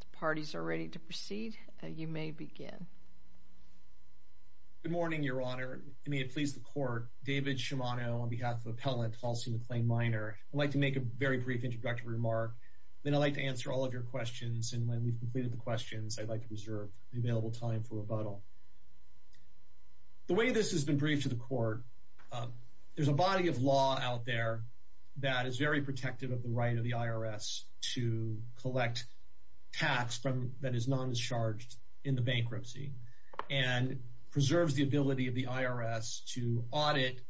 The parties are ready to proceed. You may begin. Good morning, Your Honor. May it please the Court. David Shimano on behalf of Appellant Halsey McLean Minor. I'd like to make a very brief introductory remark, then I'd like to answer all of your questions, and when we've completed the questions, I'd like to reserve the available time for rebuttal. The way this has been briefed to the Court, there's a body of law out there that is very protective of the right of the IRS to collect tax that is non-discharged in the bankruptcy and preserves the ability of the IRS to audit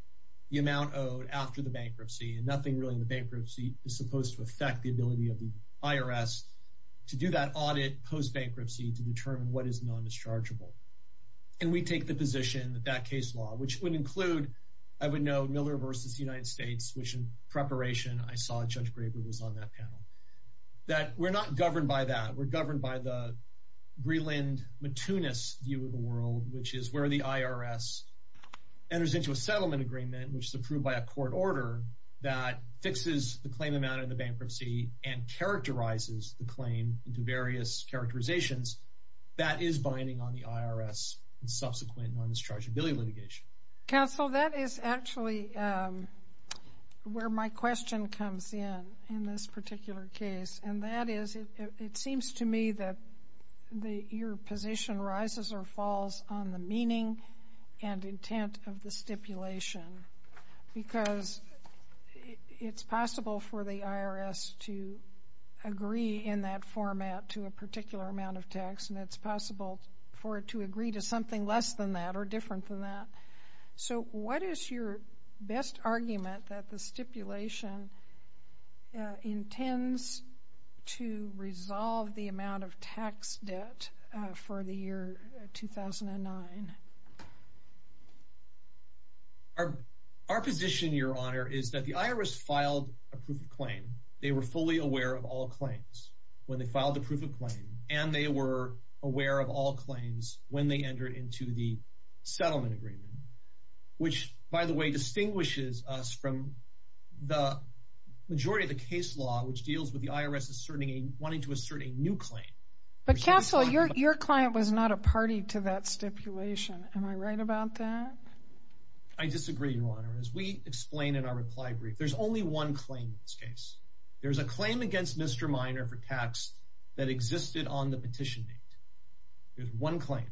the amount owed after the bankruptcy, and nothing really in the bankruptcy is supposed to affect the ability of the IRS to do that audit post-bankruptcy to determine what is non-dischargeable. And we take the position that that case law, which would include, I would note, Miller v. United States, which in preparation I saw Judge Gray who was on that panel, that we're not governed by that. We're governed by the Greeland-Metunis view of the world, which is where the IRS enters into a settlement agreement, which is approved by a court order, that fixes the claim amount in the bankruptcy and characterizes the claim into various characterizations. That is binding on the IRS and subsequent non-dischargeability litigation. Counsel, that is actually where my question comes in, in this particular case, and that is, it seems to me that your position rises or falls on the meaning and intent of the stipulation because it's possible for the IRS to agree in that format to a particular amount of tax, and it's possible for it to agree to something less than that or different from that. So, what is your best argument that the stipulation intends to resolve the amount of tax debt for the year 2009? Our position, Your Honor, is that the IRS filed a proof of claim. They were fully aware of all claims when they filed the proof of claim, and they were aware of all claims when they entered into the settlement agreement, which, by the way, distinguishes us from the majority of the case law, which deals with the IRS wanting to assert a new claim. But Counsel, your client was not a party to that stipulation. Am I right about that? I disagree, Your Honor. As we explain in our reply brief, there's only one claim in this case. There's a claim against Mr. Minor for tax that existed on the petition date. There's one claim.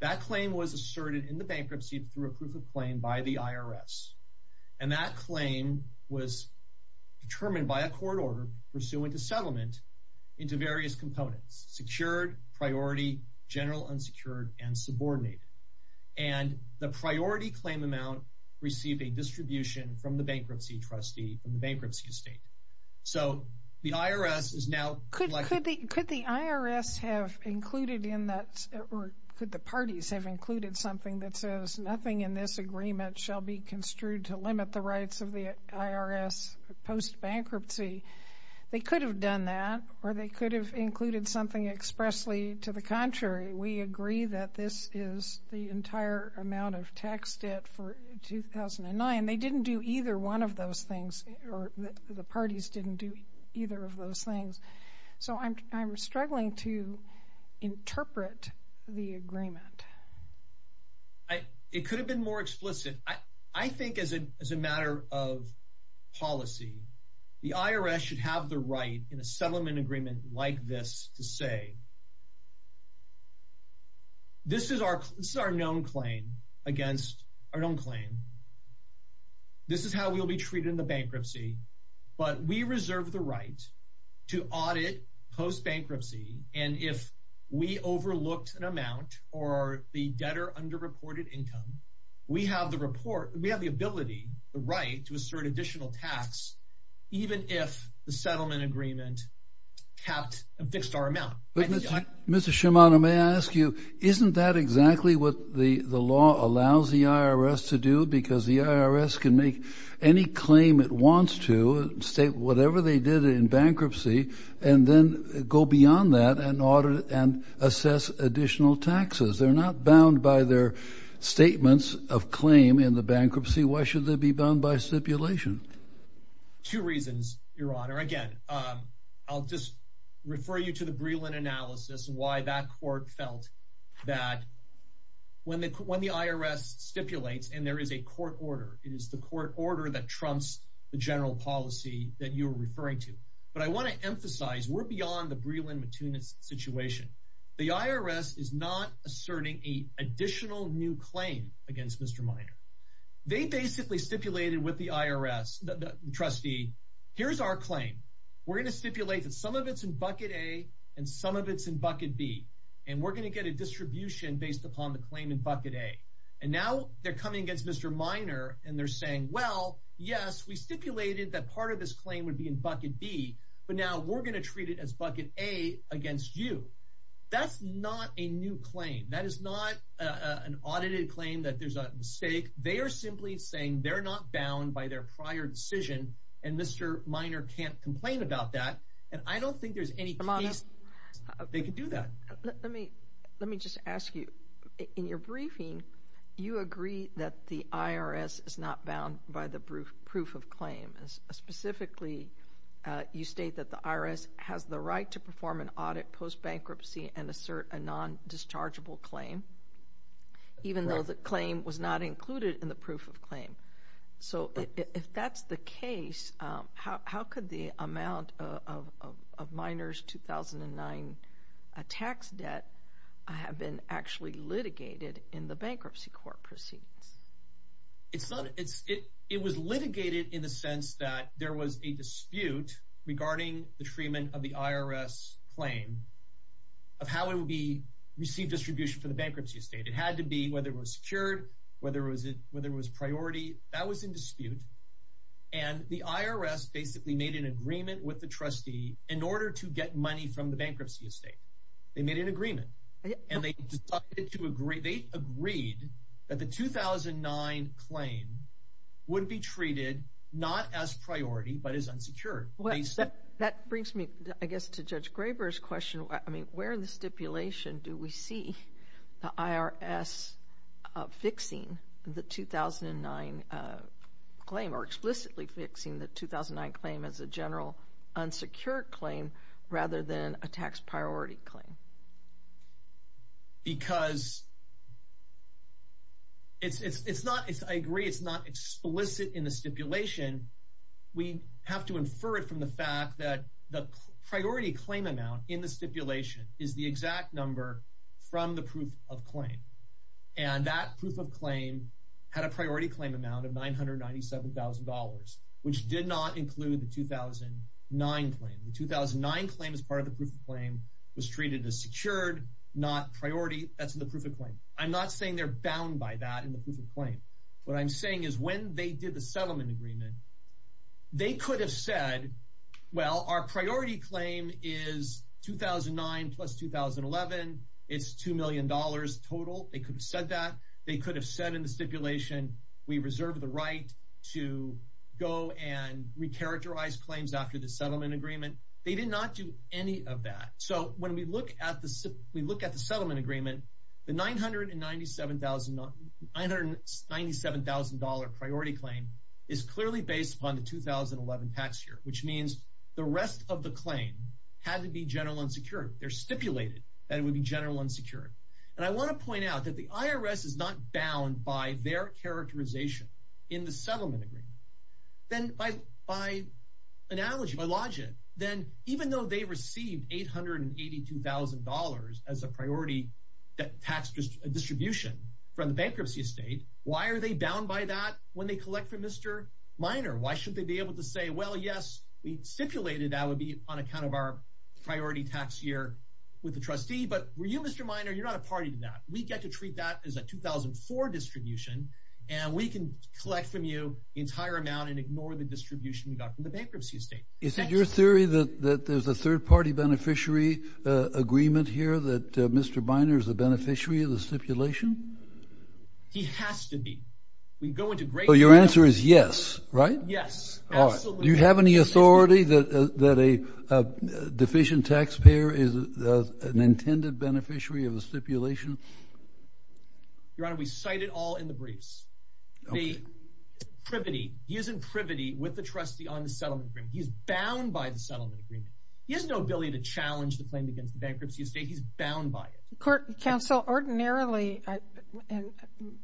That claim was asserted in the bankruptcy through a proof of claim by the IRS, and that claim was determined by a court order pursuant to settlement into various components, secured, priority, general, unsecured, and subordinated. And the priority claim amount received a distribution from the bankruptcy trustee in the bankruptcy estate. So, the IRS is now collecting... Or could the parties have included something that says, nothing in this agreement shall be construed to limit the rights of the IRS post-bankruptcy? They could have done that, or they could have included something expressly to the contrary. We agree that this is the entire amount of tax debt for 2009. They didn't do either one of those things, or the parties didn't do either of those things. So, I'm struggling to interpret the agreement. It could have been more explicit. I think as a matter of policy, the IRS should have the right in a settlement agreement like this to say, this is our known claim against our We reserve the right to audit post-bankruptcy, and if we overlooked an amount or the debtor underreported income, we have the ability, the right, to assert additional tax even if the settlement agreement fixed our amount. Mr. Shimano, may I ask you, isn't that exactly what the law allows the IRS to do? Because the IRS can make any claim it wants to, whatever they did in bankruptcy, and then go beyond that and assess additional taxes. They're not bound by their statements of claim in the bankruptcy. Why should they be bound by stipulation? Two reasons, Your Honor. Again, I'll just refer you to the Breland analysis, why that the IRS stipulates, and there is a court order. It is the court order that trumps the general policy that you were referring to. But I want to emphasize, we're beyond the Breland-Mattun situation. The IRS is not asserting a additional new claim against Mr. Minor. They basically stipulated with the IRS, trustee, here's our claim. We're going to stipulate that some of it's in bucket A and some of it's in bucket B, and we're going to get a And now they're coming against Mr. Minor, and they're saying, well, yes, we stipulated that part of this claim would be in bucket B, but now we're going to treat it as bucket A against you. That's not a new claim. That is not an audited claim that there's a mistake. They are simply saying they're not bound by their prior decision, and Mr. Minor can't complain about that. And I don't think there's any case they could do that. Let me just ask you, in your briefing, you agree that the IRS is not bound by the proof of claim. Specifically, you state that the IRS has the right to perform an audit post-bankruptcy and assert a non-dischargeable claim, even though the claim was not included in the proof of claim. So, if that's the case, how could the amount of Minor's 2009 tax debt have been actually litigated in the bankruptcy court proceedings? It was litigated in the sense that there was a dispute regarding the treatment of the IRS claim of how it would be received distribution for the bankruptcy estate. It had to be whether it was secured, whether it was priority. That was in dispute, and the IRS basically made an agreement with the trustee in order to get money from the bankruptcy estate. They made an agreement, and they agreed that the 2009 claim would be treated not as priority, but as unsecured. That brings me, I guess, to Judge Graber's question. Where in the stipulation do we see the IRS fixing the 2009 claim, or explicitly fixing the 2009 claim as a general unsecured claim, rather than a tax priority claim? Because I agree it's not explicit in the stipulation. We have to infer it from the fact that the priority claim amount in the stipulation is the exact number from the proof of claim, and that proof of claim had a priority claim amount of $997,000, which did not include the 2009 claim. The 2009 claim as part of the proof of claim was treated as secured, not priority. That's in the proof of claim. I'm not saying they're bound by that in the proof of claim. What I'm saying is when they did the settlement agreement, they could have said, well, our priority claim is 2009 plus 2011. It's $2 million total. They could have said that. They could have said in the stipulation, we reserve the right to go and recharacterize claims after the settlement agreement. They did not do any of that. When we look at the settlement agreement, the $997,000 priority claim is clearly based upon the 2011 tax year, which means the rest of the claim had to be general unsecured. They're stipulated that it would be general unsecured. I want to point out that the IRS is not bound by their characterization in the settlement agreement. By analogy, by logic, even though they received $882,000 as a priority tax distribution from the bankruptcy estate, why are they bound by that when they collect from Mr. Minor? Why should they be able to say, well, yes, we stipulated that would be on account of our priority tax year with the trustee, but were you Mr. Minor, you're not a party to that. We get to treat that as a 2004 distribution, and we can collect from you the entire amount and ignore the distribution we got from the that there's a third party beneficiary agreement here that Mr. Minor is a beneficiary of the stipulation. He has to be. We go into great. So your answer is yes, right? Yes. Do you have any authority that that a deficient taxpayer is an intended beneficiary of the stipulation? Your Honor, we cite it all in the briefs. The privity using privity with the trustee on the He's bound by the settlement agreement. He has no ability to challenge the claim against the bankruptcy estate. He's bound by it. Court Counsel, ordinarily, and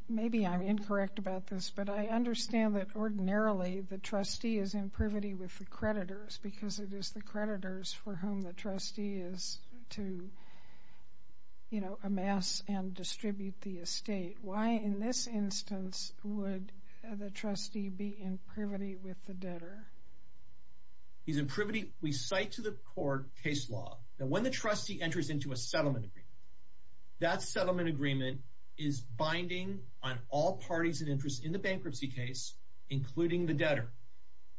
maybe I'm incorrect about this, but I understand that ordinarily the trustee is in privity with the creditors because it is the creditors for whom the trustee is to, you know, amass and distribute the estate. Why, in this instance, would the trustee be in privity with the debtor? He's in privity. We cite to the court case law that when the trustee enters into a settlement agreement, that settlement agreement is binding on all parties and interest in the bankruptcy case, including the debtor.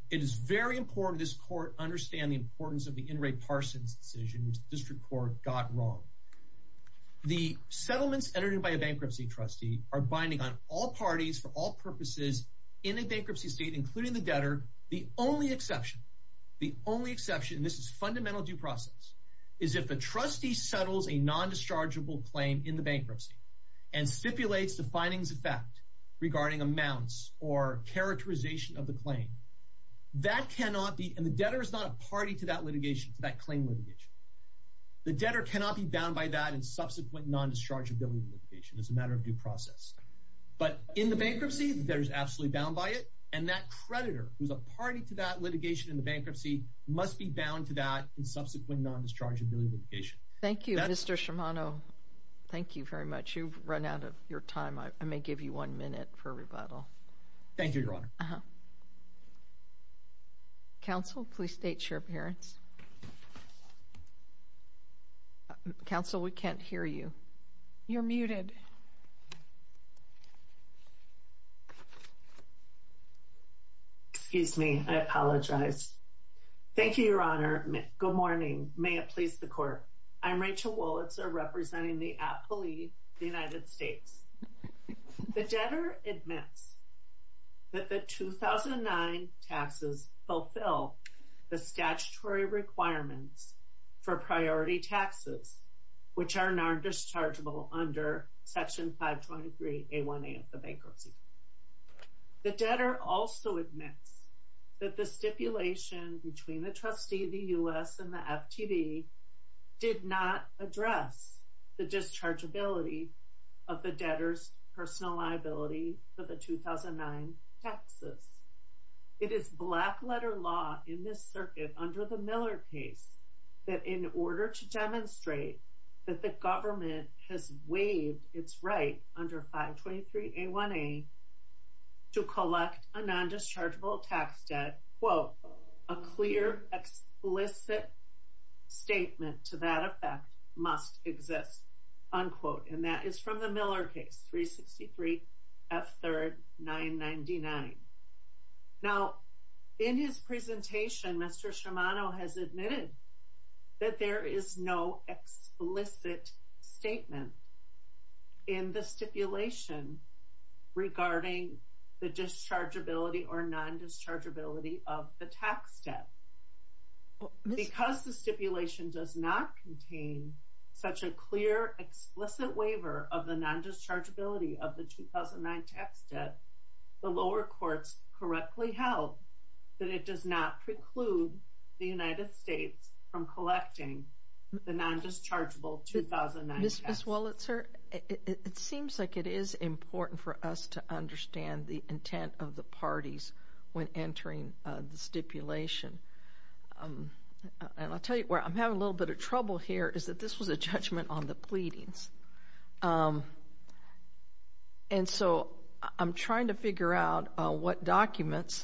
It is very important this court understand the importance of the are binding on all parties for all purposes in a bankruptcy state, including the debtor. The only exception, the only exception, and this is fundamental due process is if the trustee settles a non-dischargeable claim in the bankruptcy and stipulates the findings of fact regarding amounts or characterization of the claim, that cannot be, and the debtor is not a party to that litigation, that claim litigation. The debtor cannot be bound by that in subsequent non-dischargeable litigation. It's a matter of due process. But in the bankruptcy, the debtor is absolutely bound by it, and that creditor who's a party to that litigation in the bankruptcy must be bound to that in subsequent non-dischargeable litigation. Thank you, Mr. Shimano. Thank you very much. You've run out of your time. I may give you one minute for rebuttal. Thank you, Your Honor. Uh-huh. Counsel, please state your appearance. Counsel, we can't hear you. You're muted. Excuse me. I apologize. Thank you, Your Honor. Good morning. May it please the court. I'm Rachel Wolitzer, representing the appellee of the United States. The debtor admits that the 2009 taxes fulfill the statutory requirements for priority taxes, which are non-dischargeable under Section 523A1A of the bankruptcy. The debtor also admits that the stipulation between the trustee of the U.S. and the FTD did not address the dischargeability of the debtor's personal liability for the 2009 taxes. It is black-letter law in this circuit under the Miller case that in order to demonstrate that the government has waived its right under 523A1A to collect a non-dischargeable tax debt, quote, a clear, explicit statement to that effect must exist, unquote. And that is from the Miller case, 363 F3rd 999. Now, in his presentation, Mr. Shimano has admitted that there is no explicit statement in the stipulation regarding the dischargeability or non-dischargeability of the tax debt. Because the stipulation does not contain such a clear, explicit waiver of the non-dischargeability of the 2009 tax debt, the lower courts correctly held that it does not preclude the United States from collecting the non-dischargeable 2009 tax debt. Ms. Wolitzer, it seems like it is important for us to understand the intent of the parties when entering the stipulation. And I will tell you where I am having a little bit of trouble here is that this was a judgment on the pleadings. And so I am trying to figure out what documents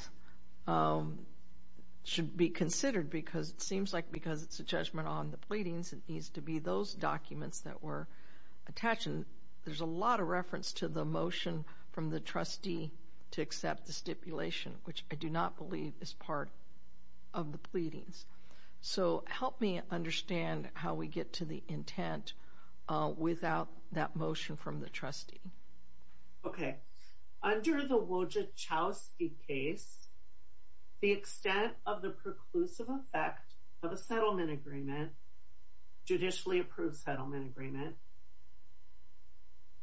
should be considered because it seems like because it is a judgment on the pleadings, it needs to be those documents that attach. And there is a lot of reference to the motion from the trustee to accept the stipulation, which I do not believe is part of the pleadings. So help me understand how we get to the intent without that motion from the trustee. Okay. Under the Wojciechowski case, the extent of the preclusive effect of a settlement agreement, judicially approved settlement agreement,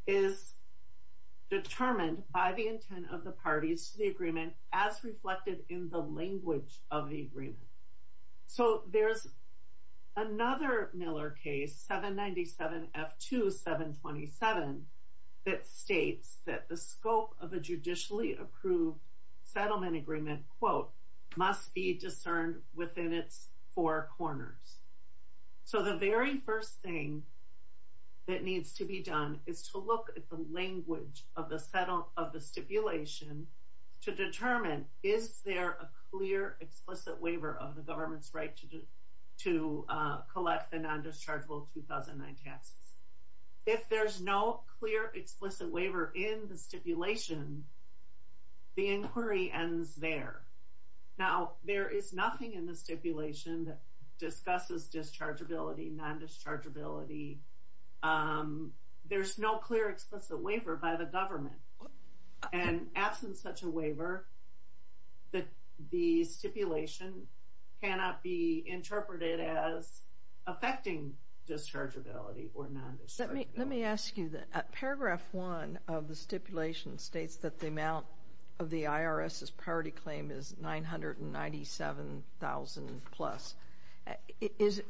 is determined by the intent of the parties to the agreement as reflected in the language of the agreement. So there is another Miller case, 797F2-727, that states that the scope of a judicially approved settlement agreement, quote, must be discerned within its four corners. So the very first thing that needs to be done is to look at the language of the stipulation to determine, is there a clear, explicit waiver of the government's right to collect the non-dischargeable 2009 taxes. If there's no clear, explicit waiver in the stipulation, the inquiry ends there. Now, there is nothing in the stipulation that discusses dischargeability, non-dischargeability. There's no clear, explicit waiver by the government. And absent such a waiver, the stipulation cannot be interpreted as affecting dischargeability or non-dischargeability. Let me ask you that. Paragraph 1 of the stipulation states that the amount of the IRS's priority claim is $997,000 plus. Is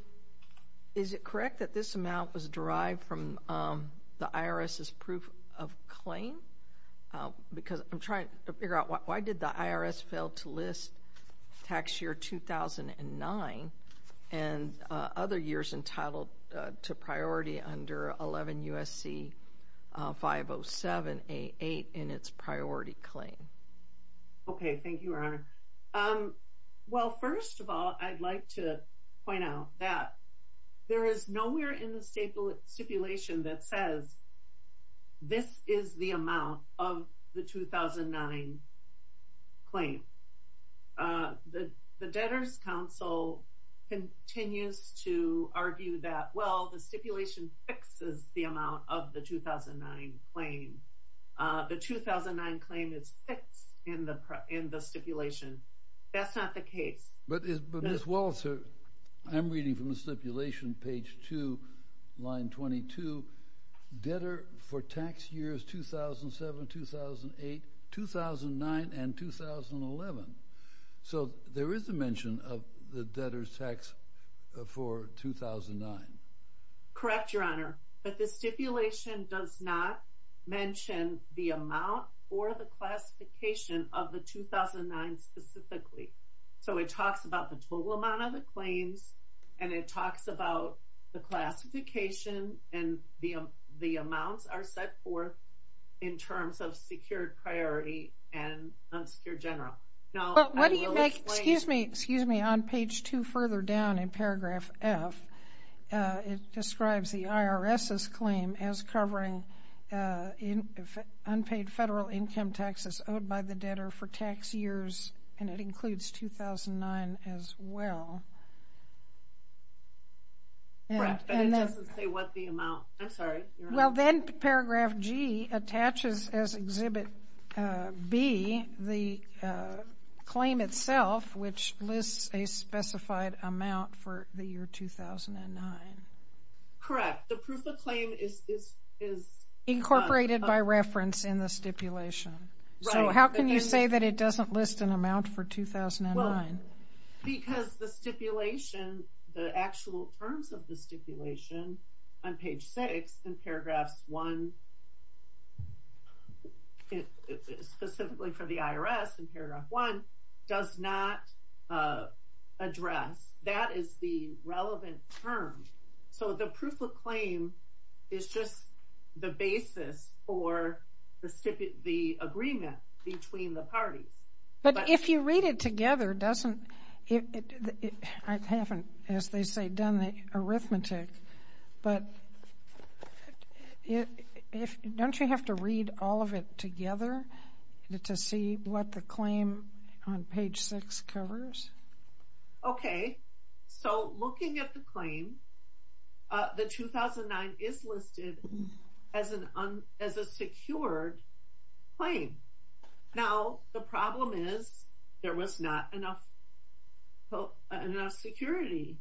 it correct that this amount was derived from the IRS's proof of claim? Because I'm trying to figure out, why did the IRS fail to list tax year 2009 and other years entitled to priority under 11 U.S.C. 507-88 in its priority claim? Okay, thank you, Your Honor. Well, first of all, I'd like to point out that there is nowhere in stipulation that says, this is the amount of the 2009 claim. The debtors' council continues to argue that, well, the stipulation fixes the amount of the 2009 claim. The 2009 claim is fixed in the stipulation. That's not the case. But Ms. Walter, I'm reading from the stipulation, page 2, line 22, debtor for tax years 2007, 2008, 2009, and 2011. So there is a mention of the debtors' tax for 2009. Correct, Your Honor. But the stipulation does not mention the amount or the classification of the 2009 specifically. So it talks about the total amount of the claims, and it talks about the classification and the amounts are set forth in terms of secured priority and unsecured general. Now, I will explain... But what do you make, excuse me, excuse me, on page 2 further down in paragraph F, it describes the IRS's claim as covering unpaid federal income taxes owed by the debtor for tax years, and it includes 2009 as well. Correct, but it doesn't say what the amount... I'm sorry, Your Honor. Well, then paragraph G attaches as exhibit B the claim itself, which lists a specified amount for the year 2009. Correct. The proof of claim is... Incorporated by reference in the stipulation. So how can you say that it doesn't list an amount for 2009? Because the stipulation, the actual terms of the stipulation on page 6 in paragraphs 1, specifically for the IRS in paragraph 1, does not address. That is the relevant term. So the proof of claim is just the basis for the agreement between the parties. But if you read it together, doesn't... I haven't, as they say, done the arithmetic, but don't you have to read all of it together to see what the claim on page 6 covers? Okay. So looking at the claim, the 2009 is listed as a secured claim. Now, the problem is there was not enough security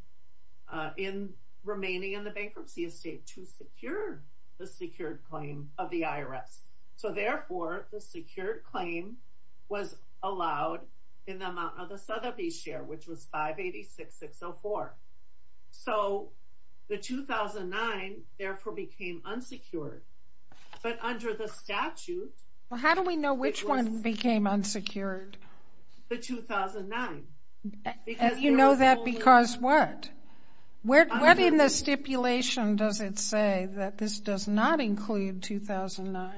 in remaining in the bankruptcy estate to secure the secured claim of Sotheby's share, which was 586,604. So the 2009, therefore, became unsecured. But under the statute... Well, how do we know which one became unsecured? The 2009. You know that because what? What in the stipulation does it say that this does not include 2009?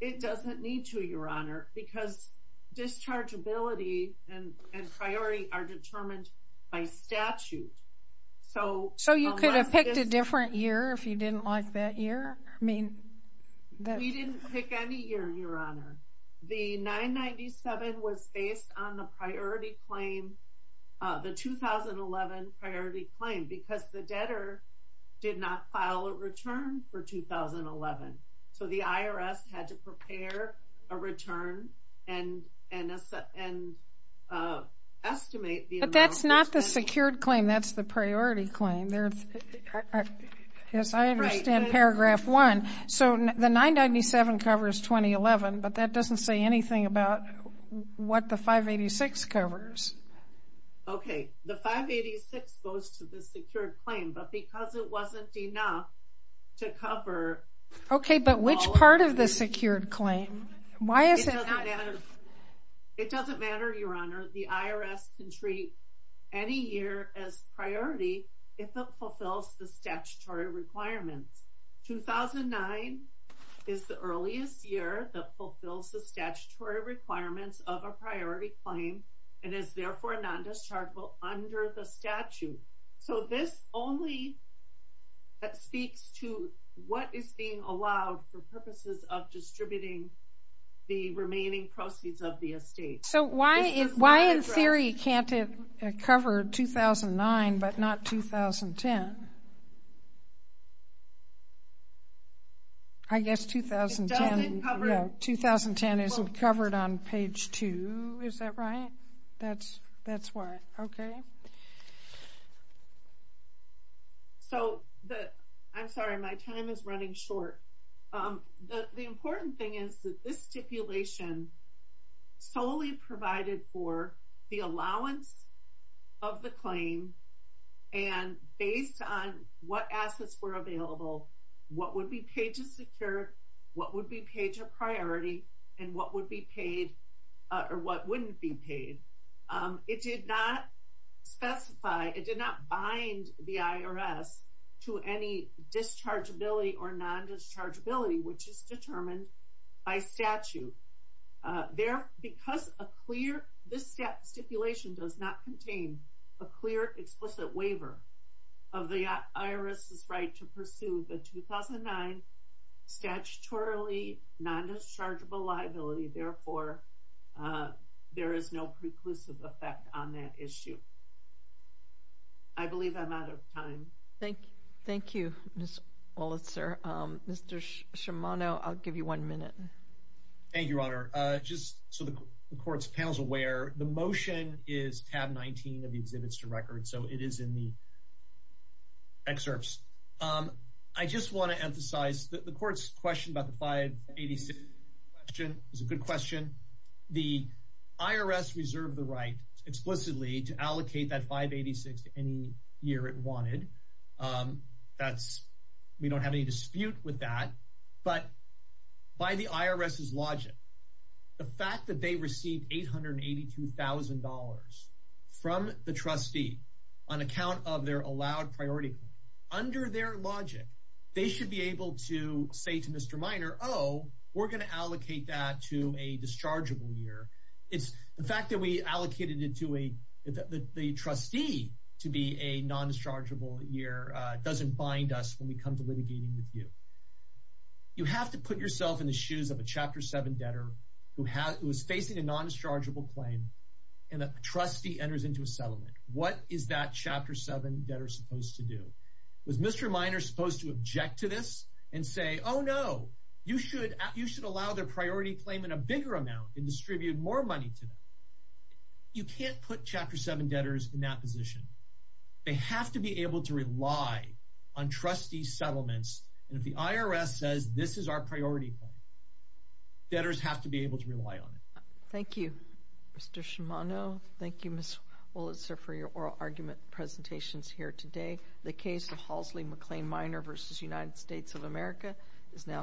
It doesn't need to, Your Honor, because dischargeability and priority are determined by statute. So... So you could have picked a different year if you didn't like that year? I mean... We didn't pick any year, Your Honor. The 997 was based on the priority claim, the 2011 priority claim, because the debtor did not file a return for 2011. So the IRS had to prepare a return and estimate the amount... But that's not the secured claim, that's the priority claim. As I understand paragraph 1. So the 997 covers 2011, but that doesn't say anything about what the 586 covers. Okay, the 586 goes to the secured claim, but because it wasn't enough to cover... Okay, but which part of the secured claim? Why is it... It doesn't matter, Your Honor, the IRS can treat any year as priority if it fulfills the statutory requirements. 2009 is the earliest year that fulfills the statutory requirements of a priority claim and is therefore non-dischargeable under the statute. So this only... That speaks to what is being allowed for purposes of distributing the remaining proceeds of the estate. So why in theory can't it cover 2009, but not 2010? I guess 2010 isn't covered on page two, is that right? That's why. Okay. So I'm sorry, my time is running short. The important thing is that this stipulation solely provided for the allowance of the claim and based on what assets were available, what would be paid to secured, what would be paid to priority, and what would be paid or what wouldn't be paid. It did not specify, it did not bind the IRS to any dischargeability or non-dischargeability, which is determined by statute. Because a clear... This stipulation does not contain a clear explicit waiver of the IRS's right to pursue the 2009 statutorily non-dischargeable liability, therefore there is no preclusive effect on that issue. I believe I'm out of time. Thank you, Ms. Oletzer. Mr. Shimano, I'll give you one minute. Thank you, Your Honor. Just so the court's panel's aware, the motion is tab 19 of the exhibits to record, so it is in the excerpts. I just want to emphasize that the court's question about the 586 question is a good question. The IRS reserved the right explicitly to allocate that 586 to any year it wanted. We don't have any dispute with that, but by the IRS's logic, the fact that they received $882,000 from the trustee on account of their allowed priority, under their logic, they should be able to say to Mr. Minor, oh, we're going to allocate that to a dischargeable year. The fact that we allocated it to the trustee to be a non-dischargeable year doesn't bind us when we come to litigating with you. You have to put yourself in the shoes of a Chapter 7 debtor who is facing a non-dischargeable claim, and a trustee enters into a settlement. What is that Chapter 7 debtor supposed to do? Was Mr. Minor supposed to object to this and say, oh, no, you should allow their priority claim in a bigger amount and distribute more money to them? You can't put Chapter 7 debtors in that position. They have to be able to rely on trustee settlements, and if the IRS says this is our priority claim, debtors have to be able to rely on it. Thank you, Mr. Shimano. Thank you, Ms. Wolitzer, for your oral argument presentations here today. The case of Halsley McLean Minor v. United States of America is now submitted.